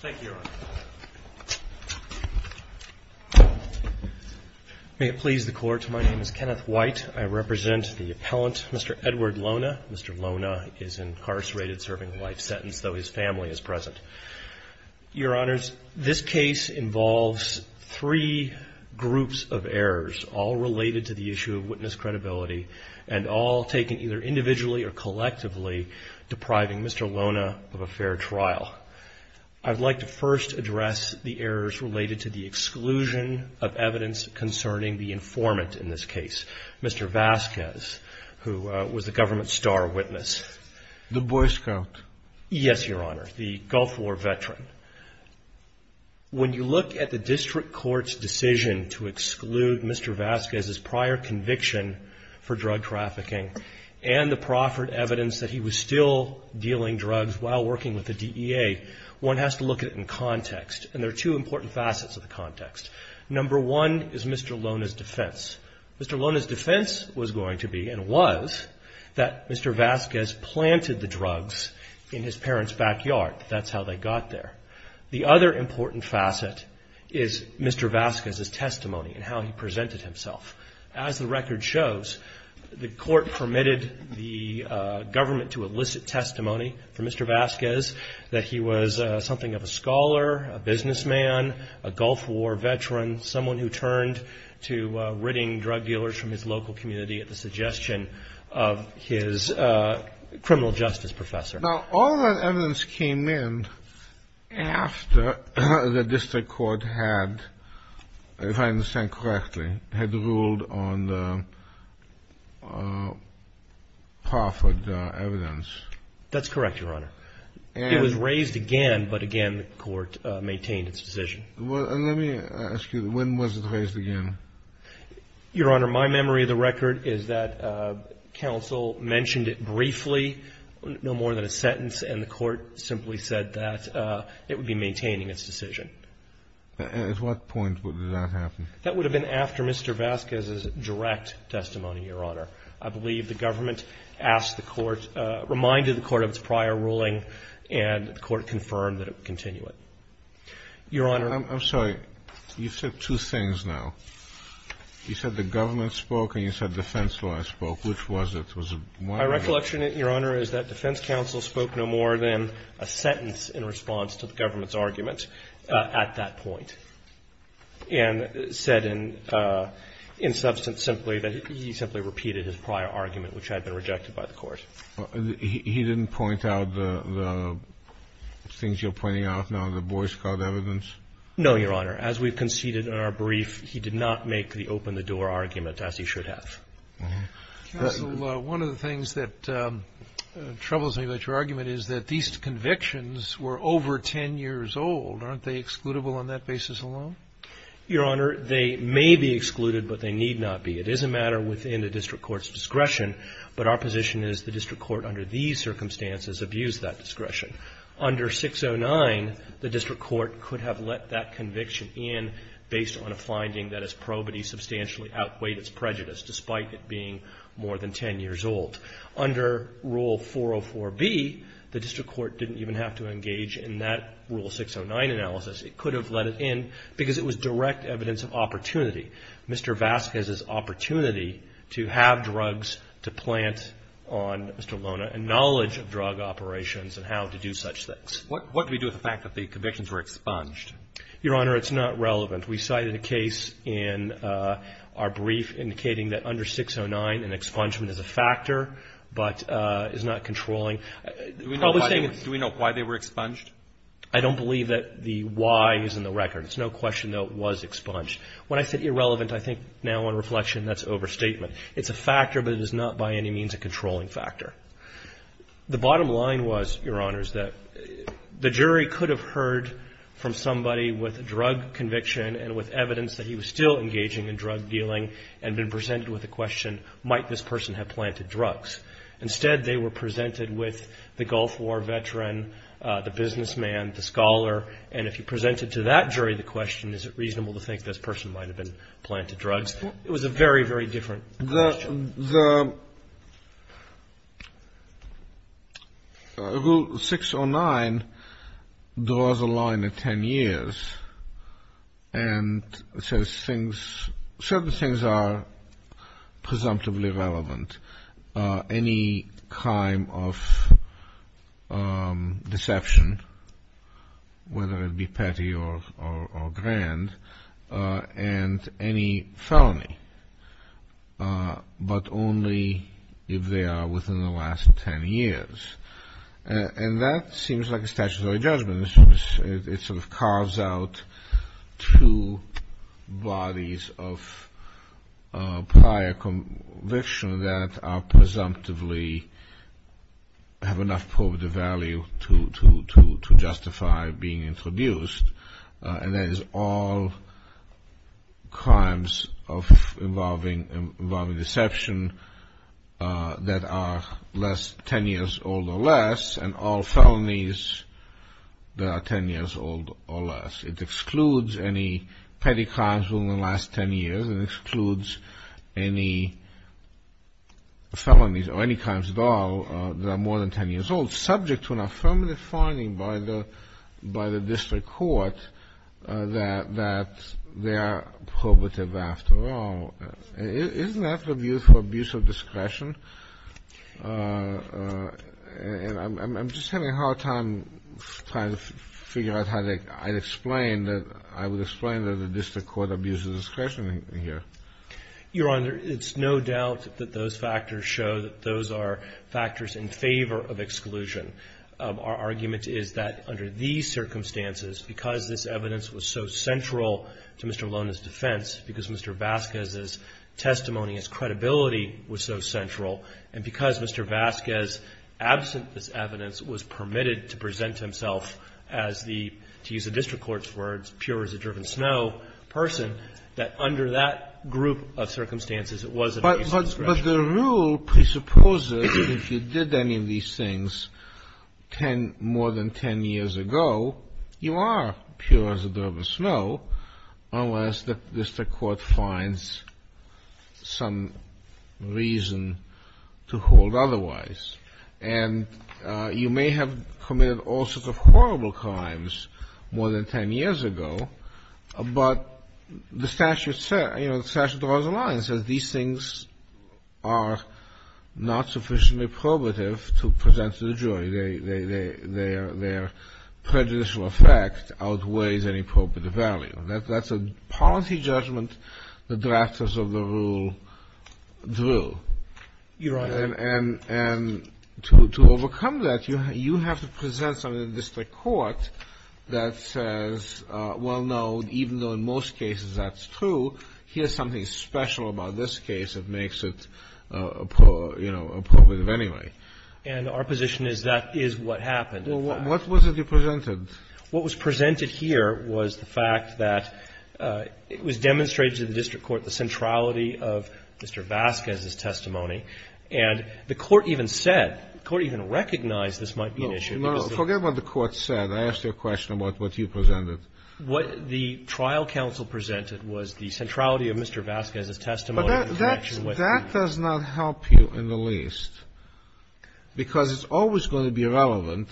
Thank you, Your Honor. May it please the Court, my name is Kenneth White. I represent the appellant, Mr. Edward Lona. Mr. Lona is incarcerated serving a life sentence, though his family is present. Your Honors, this case involves three groups of errors, all related to the issue of witness credibility, and all taken either individually or collectively, depriving Mr. Lona of a fair trial. I'd like to first address the errors related to the exclusion of evidence concerning the informant in this case, Mr. Vasquez, who was the government's MR. VASQUEZ The Boy Scout. MR. LONA Yes, Your Honor, the Gulf War veteran. When you look at the district court's decision to exclude Mr. Vasquez's prior conviction for drug trafficking, and the proffered evidence that he was still dealing drugs while working with the DEA, one has to look at it in context, and there are two important facets of the context. Number one is Mr. Lona's defense. Mr. Lona's defense was going to be, and was, that Mr. Vasquez planted the drugs in his parents' backyard. That's how they got there. The other important facet is Mr. Vasquez's government to elicit testimony from Mr. Vasquez that he was something of a scholar, a businessman, a Gulf War veteran, someone who turned to ridding drug dealers from his local community at the suggestion of his criminal justice professor. THE COURT Now, all that evidence came in after the district court had, if I understand correctly, had ruled on the proffered evidence. MR. LONA That's correct, Your Honor. It was raised again, but again the Court maintained its decision. THE COURT Let me ask you, when was it raised again? MR. LONA Your Honor, my memory of the record is that counsel mentioned it briefly, no more than a sentence, and the Court simply said that it would be maintaining its decision. THE COURT At what point would that happen? MR. LONA That would have been after Mr. Vasquez's direct testimony, Your Honor. I believe the government asked the Court, reminded the Court of its prior ruling, and the Court confirmed that it would continue it. Your Honor ---- THE COURT I'm sorry. You said two things now. You said the government spoke and you said defense law spoke. Which was it? Was it one or the other? MR. LONA My recollection, Your Honor, is that defense counsel spoke no more than a sentence in response to the government's argument at that point, and said in substance simply that he simply repeated his prior argument, which had been rejected by the Court. THE COURT He didn't point out the things you're pointing out now, the Boyce-Codd evidence? MR. LONA No, Your Honor. As we've conceded in our brief, he did not make the open-the-door argument, as he should have. THE COURT Counsel, one of the things that troubles me about your argument is that these convictions were over 10 years old. Aren't they excludable on that basis alone? MR. LONA Your Honor, they may be excluded, but they need not be. It is a matter within the district court's discretion, but our position is the district court under these circumstances abused that discretion. Under 609, the district court could have let that conviction in based on a finding that its probity substantially outweighed its prejudice, despite it being more than 10 years old. Under Rule 404B, the district court didn't even have to engage in that Rule 609 analysis. It could have let it in because it was direct evidence of opportunity, Mr. Vasquez's opportunity to have drugs to plant on Mr. Lona and knowledge of drug operations and how to do such things. THE COURT What do we do with the fact that the convictions were expunged? MR. LONA Your Honor, it's not relevant. We cited a case in our brief indicating that under 609, an expungement is a factor, but is not controlling. THE COURT Do we know why they were expunged? MR. LONA I don't believe that the why is in the record. It's no question, though, it was expunged. When I said irrelevant, I think now on reflection that's overstatement. It's a factor, but it is not by any means a controlling factor. The bottom line was, Your Honors, that the jury could have heard from somebody with a drug conviction and with evidence that he was still engaging in drug dealing and been presented with a question, might this person have planted drugs? Instead, they were presented with the Gulf War veteran, the businessman, the scholar, and if you presented to that jury the question, is it reasonable to think this person might have been planted drugs, it was a very, very different question. THE COURT The Rule 609 draws a line of 10 years and says certain things are not presumptively relevant. Any crime of deception, whether it be petty or grand, and any felony, but only if they are within the last 10 years. And that seems like a statutory judgment. It sort of carves out two bodies of prior conviction that are presumptively, have enough probative value to justify being introduced. And that is all crimes involving deception that are less than 10 years old or less, and all felonies that are 10 years old or less. It excludes any petty crimes within the last 10 years. It excludes any felonies or any crimes at all that are more than 10 years old, subject to an affirmative finding by the district court that they are probative after all. Isn't that the view for a beautiful discretion? And I'm just having a hard time trying to figure out how to explain that. I would explain that the district court abuses discretion here. MR. BASKES Your Honor, it's no doubt that those factors show that those are factors in favor of exclusion. Our argument is that under these circumstances, because this evidence was so central to Mr. Maloney's defense, because Mr. Vasquez's testimony, his credibility was so central, and because Mr. Vasquez, absent this evidence, was permitted to present himself as the, to use the district court's words, pure as a driven snow person, that under that group of circumstances, it was an abuse of discretion. THE COURT But the rule presupposes if you did any of these things more than 10 years ago, you are pure as a driven snow, unless the district court finds some reason to hold otherwise. And you may have committed all sorts of horrible crimes more than 10 years ago, but the statute draws a line. It says these things are not sufficiently probative to present to the jury. Their prejudicial effect outweighs any probative value. That's a policy judgment the drafters of the rule drew. MR. BASKES Your Honor. THE COURT And to overcome that, you have to present something to the district court that says, well, no, even though in most cases that's true, here's something special about this case that makes it, you know, probative anyway. MR. BASKES And our position is that is what happened. THE COURT Well, what was it you presented? MR. BASKES What was presented here was the fact that it was demonstrated to the district court the centrality of Mr. Vasquez's testimony. And the Court even said, the Court even recognized this might be an issue because the Court said that. THE COURT No, forget what the Court said. I asked you a question about what you presented. MR. BASKES What the trial counsel presented was the centrality of Mr. Vasquez's testimony. THE COURT But that does not help you in the least because it's always going to be relevant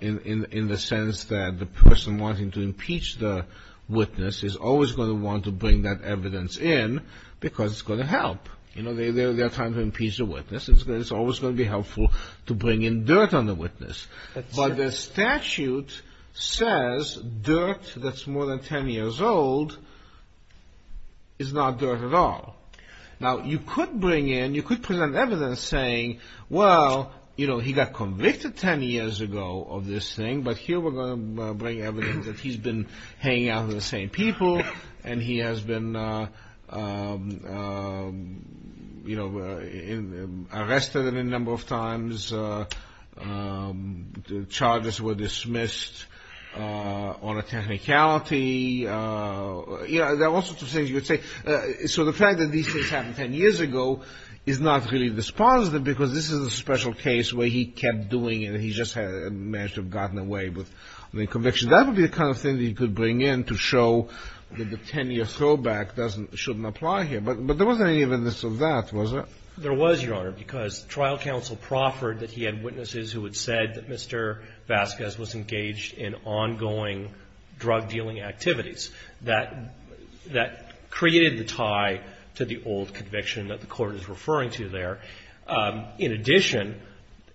in the sense that the person wanting to impeach the witness is always going to want to bring that evidence in because it's going to help. You know, they're trying to impeach the witness. It's always going to be helpful to bring in dirt on the witness. But the statute says dirt that's more than 10 years old is not dirt at all. Now you could bring in, you could present evidence saying, well, you know, he got convicted 10 years ago of this thing, but here we're going to bring evidence that he's been hanging out with the same people and he has been, you know, arrested a number of times. Charges were dismissed on a technicality. You know, there are all sorts of things you could say. So the fact that these things happened 10 years ago is not really dispositive because this is a special case where he kept doing it and he just managed to have gotten away with the conviction. That would be the kind of thing that you could bring in to show that the 10-year throwback doesn't, shouldn't apply here. But there wasn't any evidence of that, was there? MR. BASKES There was, Your Honor, because trial counsel proffered that he had witnesses who had said that Mr. Vasquez was engaged in ongoing drug dealing activities. That created the tie to the old conviction that the Court is referring to there. In addition,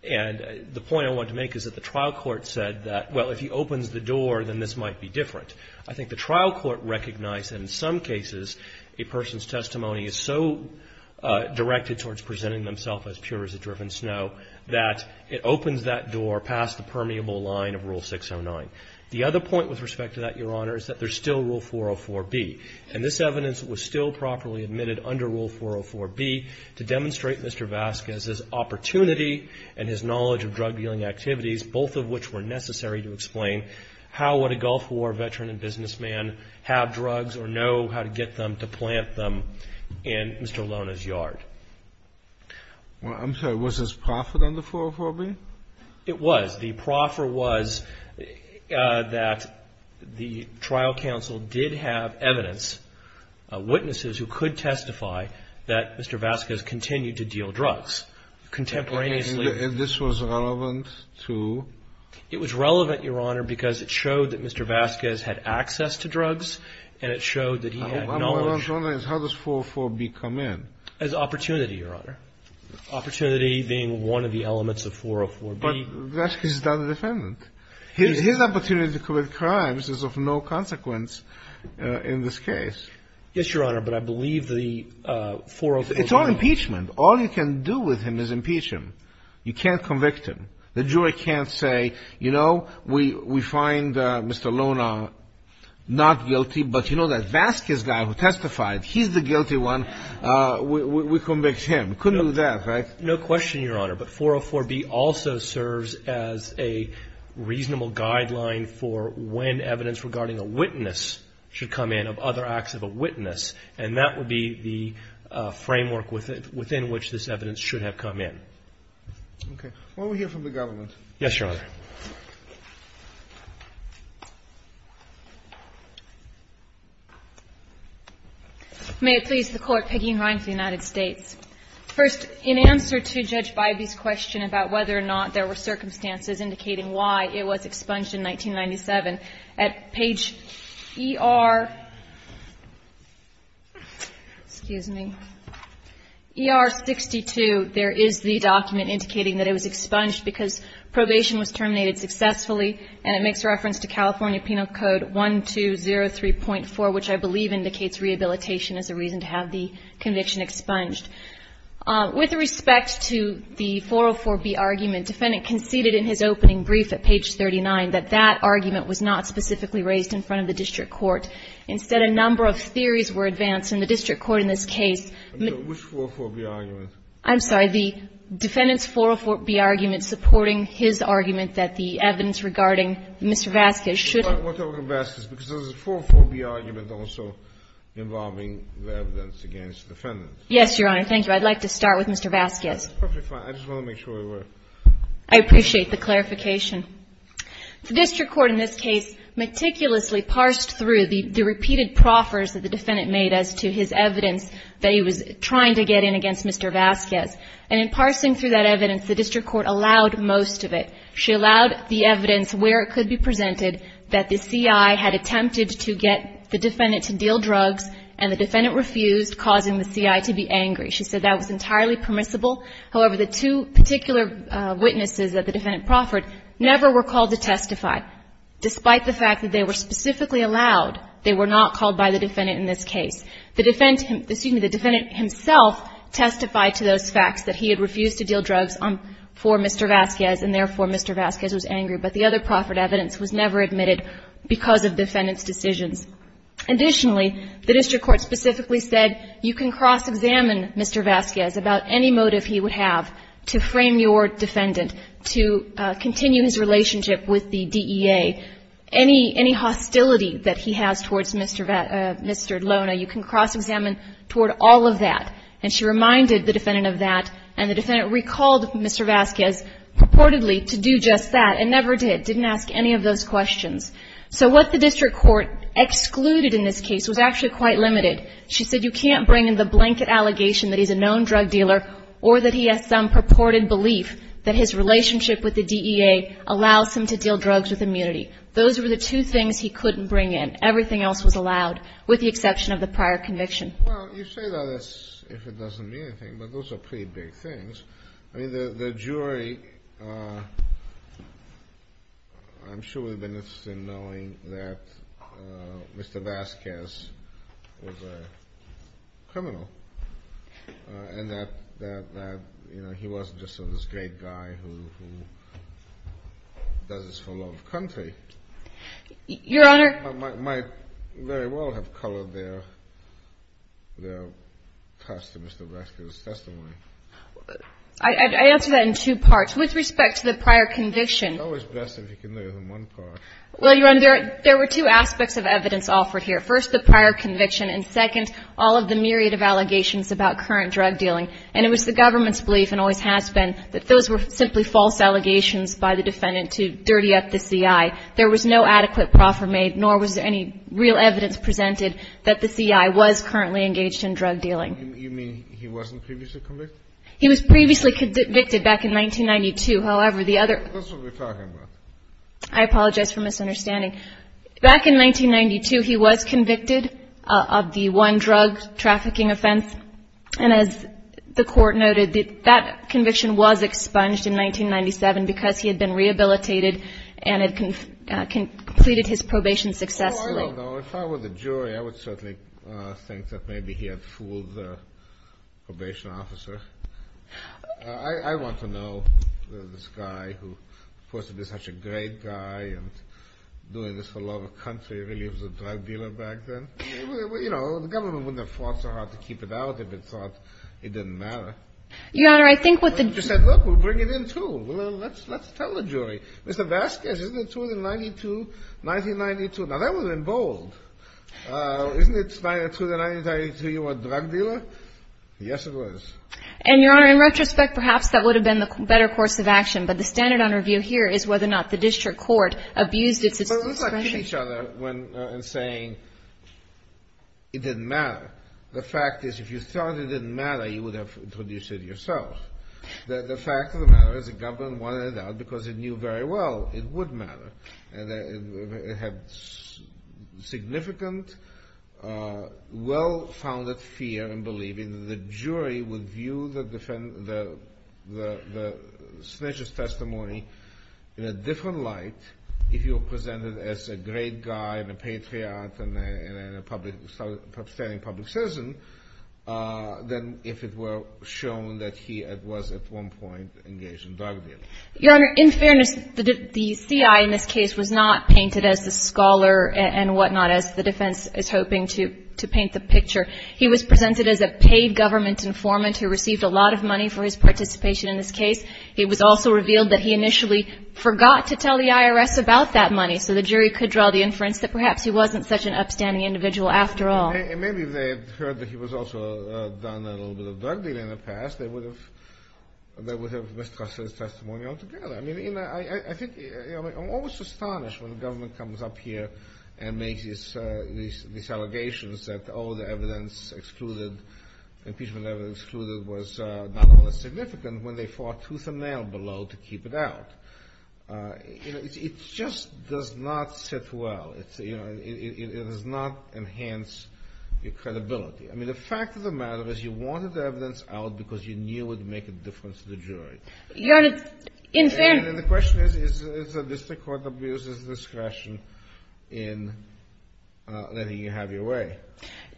and the point I want to make is that the trial court said that, well, if he opens the door, then this might be different. I think the trial court recognized that in some cases a person's testimony is so directed towards presenting themselves as pure as a driven snow that it opens that door past the permeable line of Rule 609. The other point with respect to that, Your Honor, is that there's still Rule 404B. And this evidence was still properly admitted under Rule 404B to demonstrate Mr. Vasquez's opportunity and his knowledge of drug dealing activities, both of which were necessary to explain how would a Gulf War veteran and businessman have drugs or know how to get them to plant them in Mr. Lona's yard. THE COURT I'm sorry. Was this proffered under 404B? MR. BASKES It was. The proffer was that the trial counsel did have evidence that Mr. Vasquez had access to drugs, and it showed that he had knowledge of them. THE COURT And this was relevant to? MR. BASKES It was relevant, Your Honor, because it showed that Mr. Vasquez had access to drugs, and it showed that he had knowledge. THE COURT How does 404B come in? MR. BASKES As opportunity, Your Honor. Opportunity being one of the elements of 404B. THE COURT But Vasquez is not a defendant. His opportunity to commit crimes is of no importance in this case. MR. BASKES Yes, Your Honor, but I believe the 404B... THE COURT It's all impeachment. All you can do with him is impeach him. You can't convict him. The jury can't say, you know, we find Mr. Lona not guilty, but you know that Vasquez guy who testified, he's the guilty one. We convict him. Couldn't do that, right? MR. BASKES No question, Your Honor, but 404B also serves as a reasonable guideline for when evidence regarding a witness should come in, of other acts of a witness, and that would be the framework within which this evidence should have come in. THE COURT Okay. Will we hear from the government? MR. BASKES Yes, Your Honor. MS. GOTTLIEB May it please the Court, Peggy and Ryan for the United States. First, in answer to Judge Bybee's question about whether or not there were circumstances indicating why it was expunged in 1997, at page ER 62, there is the document indicating that it was expunged because probation was terminated successfully, and it makes reference to California Penal Code 1203.4, which I believe indicates rehabilitation as a reason to have the conviction expunged. With respect to the 404B argument, defendant conceded in his opening brief at page 39 that that argument was not specifically raised in front of the district court. Instead, a number of theories were advanced in the district court in this case. THE COURT Which 404B argument? MS. GOTTLIEB I'm sorry, the defendant's 404B argument supporting his argument that the evidence regarding Mr. Vasquez should have been. THE COURT What about Mr. Vasquez? Because there's a 404B argument also involving the evidence against the defendant. MS. GOTTLIEB Yes, Your Honor. Thank you. I'd like to start with Mr. Vasquez. THE COURT That's perfectly fine. I just want to make sure we work. MS. GOTTLIEB I appreciate the clarification. The district court in this case meticulously parsed through the repeated proffers that the defendant made as to his evidence that he was trying to get in against Mr. Vasquez. And in parsing through that evidence, the district court allowed most of it. She allowed the evidence where it could be presented that the C.I. had attempted to get the defendant to deal drugs and the defendant refused, causing the C.I. to be angry. She said that was entirely permissible. However, the two particular witnesses that the defendant proffered never were called to testify. Despite the fact that they were specifically allowed, they were not called by the defendant in this case. The defendant himself testified to those facts, that he had refused to deal drugs for Mr. Vasquez, and therefore Mr. Vasquez was angry. But the other proffered evidence was never admitted because of the defendant's decisions. Additionally, the district court specifically said you can cross-examine Mr. Vasquez about any motive he would have to frame your defendant, to continue his relationship with the DEA, any hostility that he has towards Mr. Lona, you can cross-examine toward all of that. And she reminded the defendant of that, and the defendant recalled Mr. Vasquez purportedly to do just that, and never did, didn't ask any of those questions. So what the district court excluded in this case was actually quite limited. She said you can't bring in the blanket allegation that he's a known drug dealer or that he has some purported belief that his relationship with the DEA allows him to deal drugs with immunity. Those were the two things he couldn't bring in. Everything else was allowed, with the exception of the prior conviction. Well, you say that as if it doesn't mean anything, but those are pretty big things. I mean, the jury, I'm sure would have been interested in knowing that Mr. Vasquez was a criminal and that he wasn't just this great guy who does this for love of country. Your Honor. Might very well have colored their test in Mr. Vasquez's testimony. I answer that in two parts. With respect to the prior conviction. It's always best if you can leave it in one part. Well, Your Honor, there were two aspects of evidence offered here. First, the prior conviction, and second, all of the myriad of allegations about current drug dealing. And it was the government's belief, and always has been, that those were simply false allegations by the defendant to dirty up the CI. There was no adequate proffer made, nor was there any real evidence presented that the CI was currently engaged in drug dealing. You mean he wasn't previously convicted? He was previously convicted back in 1992. However, the other. That's what we're talking about. I apologize for misunderstanding. Back in 1992, he was convicted of the one drug trafficking offense. And as the court noted, that conviction was expunged in 1997 because he had been rehabilitated and had completed his probation successfully. If I were the jury, I would certainly think that maybe he had fooled the probation officer. I want to know this guy who was supposed to be such a great guy and doing this for the love of country. Really, he was a drug dealer back then. You know, the government wouldn't have fought so hard to keep it out if it thought it didn't matter. Your Honor, I think what the jury. You said, look, we'll bring it in, too. Well, let's tell the jury. Mr. Vasquez, isn't it true that in 1992, 1992. Now, that was in bold. Isn't it true that in 1992, you were a drug dealer? Yes, it was. And, Your Honor, in retrospect, perhaps that would have been the better course of action. But the standard on review here is whether or not the district court abused its discretion. But it was like hitting each other and saying it didn't matter. The fact is, if you thought it didn't matter, you would have introduced it yourself. The fact of the matter is the government wanted it out because it knew very well it would matter. And it had significant, well-founded fear in believing that the jury would view the snitch's testimony in a different light if you were presented as a great guy and a patriot and a outstanding public citizen than if it were shown that he was at one point engaged in drug dealing. Your Honor, in fairness, the C.I. in this case was not painted as the scholar and whatnot as the defense is hoping to paint the picture. He was presented as a paid government informant who received a lot of money for his participation in this case. He was also revealed that he initially forgot to tell the IRS about that money so the jury could draw the inference that perhaps he wasn't such an upstanding individual after all. And maybe they had heard that he was also done a little bit of drug dealing in the past. Perhaps they would have mistrusted his testimony altogether. I think I'm almost astonished when the government comes up here and makes these allegations that, oh, the evidence excluded, impeachment evidence excluded was not only significant when they fought tooth and nail below to keep it out. It just does not sit well. It does not enhance your credibility. I mean, the fact of the matter is you wanted the evidence out because you knew it would make a difference to the jury. Your Honor, in fairness. And the question is, is the district court abuses discretion in letting you have your way?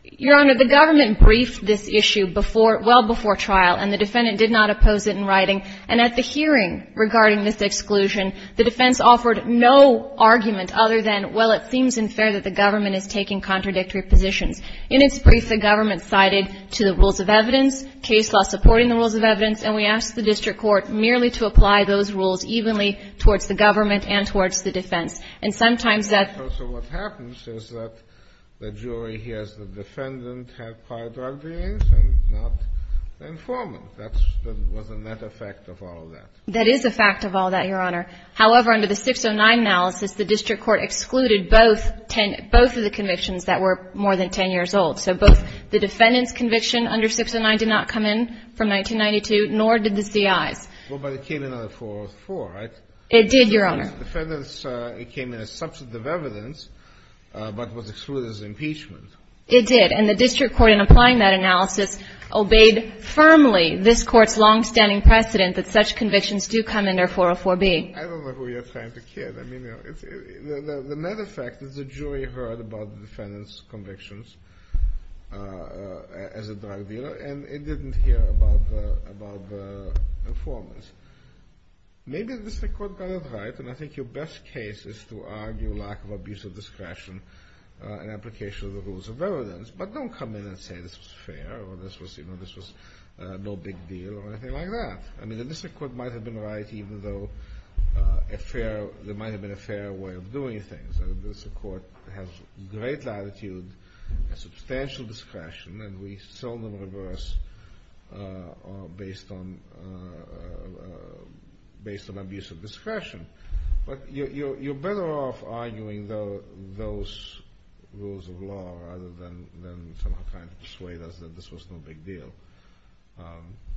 Your Honor, the government briefed this issue before, well before trial, and the defendant did not oppose it in writing. And at the hearing regarding this exclusion, the defense offered no argument other than, well, it seems unfair that the government is taking contradictory positions. In its brief, the government sided to the rules of evidence, case law supporting the rules of evidence, and we asked the district court merely to apply those rules evenly towards the government and towards the defense. And sometimes that's also what happens is that the jury hears the defendant have prior drug dealings and not the informant. That's the net effect of all of that. That is a fact of all that, Your Honor. However, under the 609 analysis, the district court excluded both ten — both of the defendant's conviction under 609 did not come in from 1992, nor did the CIA's. Well, but it came in under 404, right? It did, Your Honor. The defendant's — it came in as substantive evidence, but was excluded as impeachment. It did. And the district court, in applying that analysis, obeyed firmly this Court's longstanding precedent that such convictions do come under 404B. I don't know who you're trying to kid. I mean, you know, it's — the net effect is the jury heard about the defendant's convictions as a drug dealer, and it didn't hear about the informant's. Maybe the district court got it right, and I think your best case is to argue lack of abuse of discretion in application of the rules of evidence. But don't come in and say this was fair or this was — you know, this was no big deal or anything like that. I mean, the district court might have been right even though a fair — there might have been a fair way of doing things. And this Court has great latitude and substantial discretion, and we seldom reverse based on — based on abuse of discretion. But you're better off arguing those rules of law rather than somehow trying to persuade us that this was no big deal.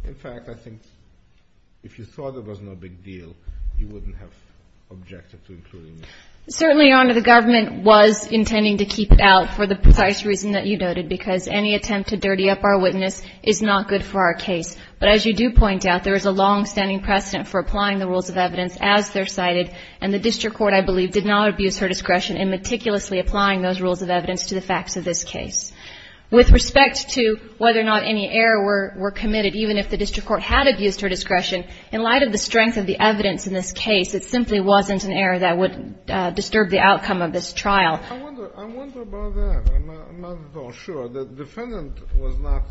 In fact, I think if you thought it was no big deal, you wouldn't have objected to including it. Certainly, Your Honor, the government was intending to keep it out for the precise reason that you noted, because any attempt to dirty up our witness is not good for our case. But as you do point out, there is a long-standing precedent for applying the rules of evidence as they're cited, and the district court, I believe, did not abuse her discretion in meticulously applying those rules of evidence to the facts of this case. With respect to whether or not any error were committed, even if the district court had abused her discretion, in light of the strength of the evidence in this case, it simply wasn't an error that would disturb the outcome of this trial. I wonder about that. I'm not at all sure. The defendant was not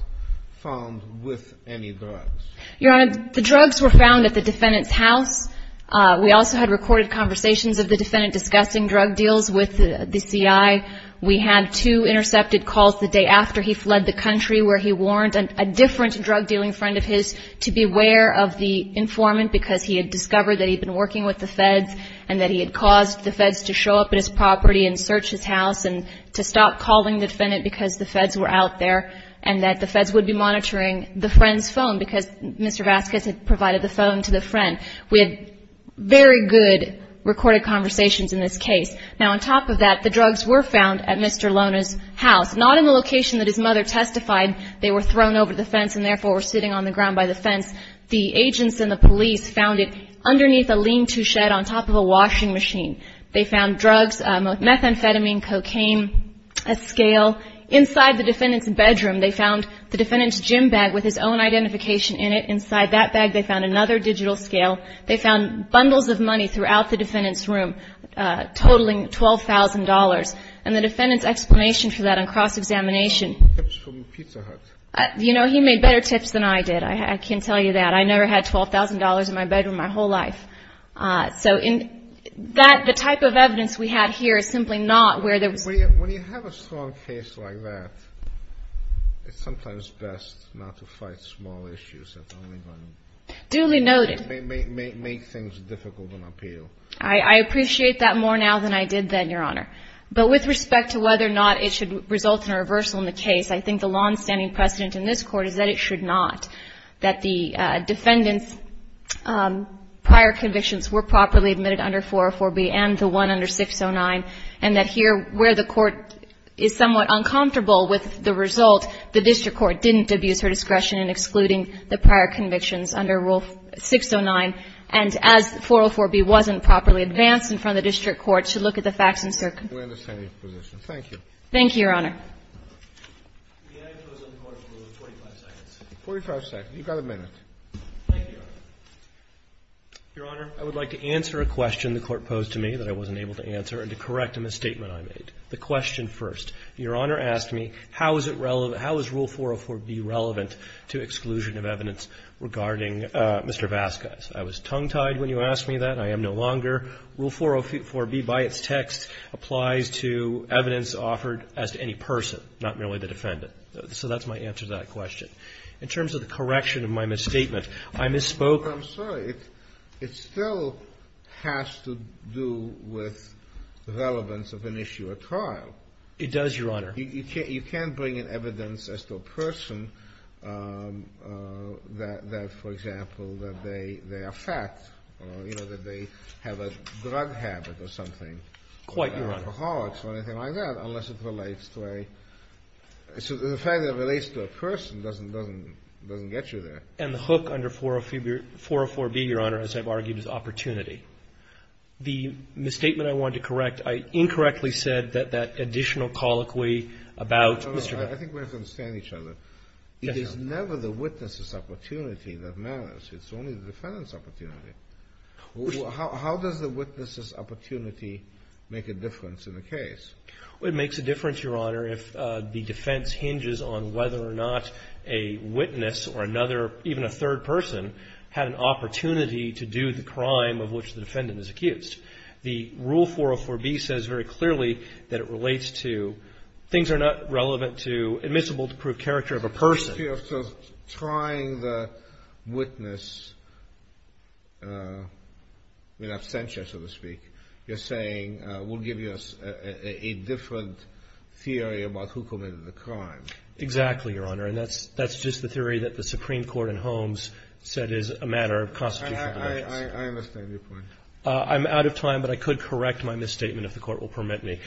found with any drugs. Your Honor, the drugs were found at the defendant's house. We also had recorded conversations of the defendant discussing drug deals with the C.I. We had two intercepted calls the day after he fled the country where he warned a different drug-dealing friend of his to be aware of the informant because he had discovered that he'd been working with the Feds and that he had caused the Feds to show up at his property and search his house and to stop calling the defendant because the Feds were out there and that the Feds would be monitoring the friend's phone because Mr. Vasquez had provided the phone to the friend. We had very good recorded conversations in this case. Now, on top of that, the drugs were found at Mr. Lona's house, not in the location that his mother testified. They were thrown over the fence and, therefore, were sitting on the ground by the fence. The agents and the police found it underneath a lean-to shed on top of a washing machine. They found drugs, methamphetamine, cocaine, a scale. Inside the defendant's bedroom, they found the defendant's gym bag with his own identification in it. Inside that bag, they found another digital scale. They found bundles of money throughout the defendant's room, totaling $12,000. And the defendant's explanation for that on cross-examination. He made better tips than I did. I can tell you that. I never had $12,000 in my bedroom my whole life. So in that, the type of evidence we have here is simply not where there was. When you have a strong case like that, it's sometimes best not to fight small issues. It's only going to make things difficult and appeal. I appreciate that more now than I did then, Your Honor. But with respect to whether or not it should result in a reversal in the case, I think the longstanding precedent in this Court is that it should not. That the defendant's prior convictions were properly admitted under 404B and the one under 609. And that here, where the Court is somewhat uncomfortable with the result, the district court didn't abuse her discretion in excluding the prior convictions under Rule 609. And as 404B wasn't properly advanced in front of the district court, should look at the facts and circumstances. Thank you. Thank you, Your Honor. 45 seconds. You've got a minute. Thank you, Your Honor. Your Honor, I would like to answer a question the Court posed to me that I wasn't able to answer and to correct a misstatement I made. The question first. Your Honor asked me how is it relevant, how is Rule 404B relevant to exclusion of evidence regarding Mr. Vasquez. I was tongue-tied when you asked me that. I am no longer. Rule 404B by its text applies to evidence offered as to any person, not merely the defendant. So that's my answer to that question. In terms of the correction of my misstatement, I misspoke. I'm sorry. It still has to do with relevance of an issue at trial. It does, Your Honor. You can't bring in evidence as to a person that, for example, that they are fat or, you know, that they have a drug habit or something. Quite, Your Honor. Alcoholics or anything like that, unless it relates to a – so the fact that it relates to a person doesn't get you there. And the hook under 404B, Your Honor, as I've argued, is opportunity. The misstatement I wanted to correct, I incorrectly said that that additional colloquy about Mr. Vasquez. I think we have to understand each other. Yes, Your Honor. It is never the witness's opportunity that matters. It's only the defendant's opportunity. How does the witness's opportunity make a difference in the case? It makes a difference, Your Honor, if the defense hinges on whether or not a witness or another, even a third person, had an opportunity to do the crime of which the defendant is accused. The Rule 404B says very clearly that it relates to things are not relevant to admissible character of a person. So trying the witness in absentia, so to speak, you're saying will give you a different theory about who committed the crime. Exactly, Your Honor. And that's just the theory that the Supreme Court in Holmes said is a matter of constitutional diligence. I understand your point. I'm out of time, but I could correct my misstatement if the Court will permit me.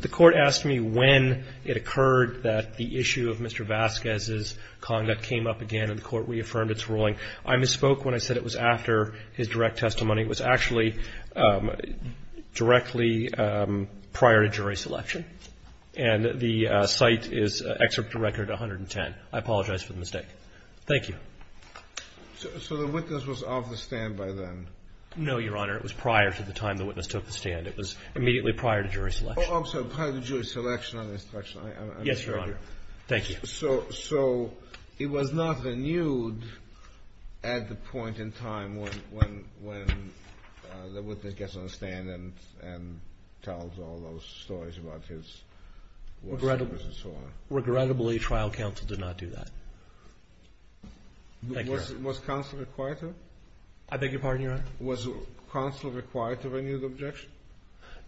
The Court asked me when it occurred that the issue of Mr. Vasquez's conduct came up again, and the Court reaffirmed its ruling. I misspoke when I said it was after his direct testimony. It was actually directly prior to jury selection. And the cite is Excerpt to Record 110. I apologize for the mistake. Thank you. So the witness was off the stand by then? No, Your Honor. It was prior to the time the witness took the stand. It was immediately prior to jury selection. Oh, I'm sorry. Prior to jury selection and instruction. Yes, Your Honor. Thank you. So it was not renewed at the point in time when the witness gets on the stand and tells all those stories about his words and so on? Regrettably, trial counsel did not do that. Thank you, Your Honor. Was counsel required to? I beg your pardon, Your Honor? Was counsel required to renew the objection?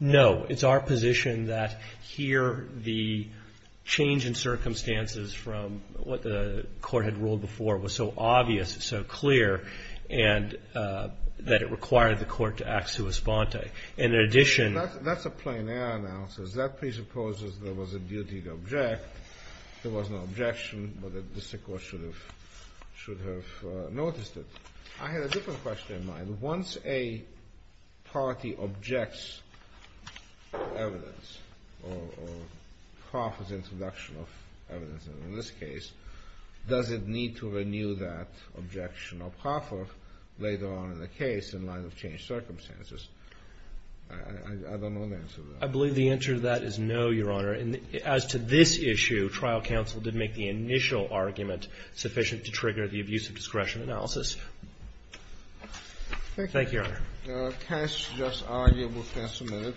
No. It's our position that here the change in circumstances from what the Court had ruled before was so obvious, so clear, and that it required the Court to act sua sponte. And in addition to that. That's a plein air analysis. That presupposes there was a duty to object. There was no objection, but the district court should have noticed it. I had a different question in mind. Once a party objects to evidence or proffers introduction of evidence, in this case, does it need to renew that objection or proffer later on in the case in light of changed circumstances? I don't know the answer to that. I believe the answer to that is no, Your Honor. As to this issue, trial counsel did make the initial argument sufficient to trigger the abuse of discretion analysis. Thank you, Your Honor. The case is argued and submitted.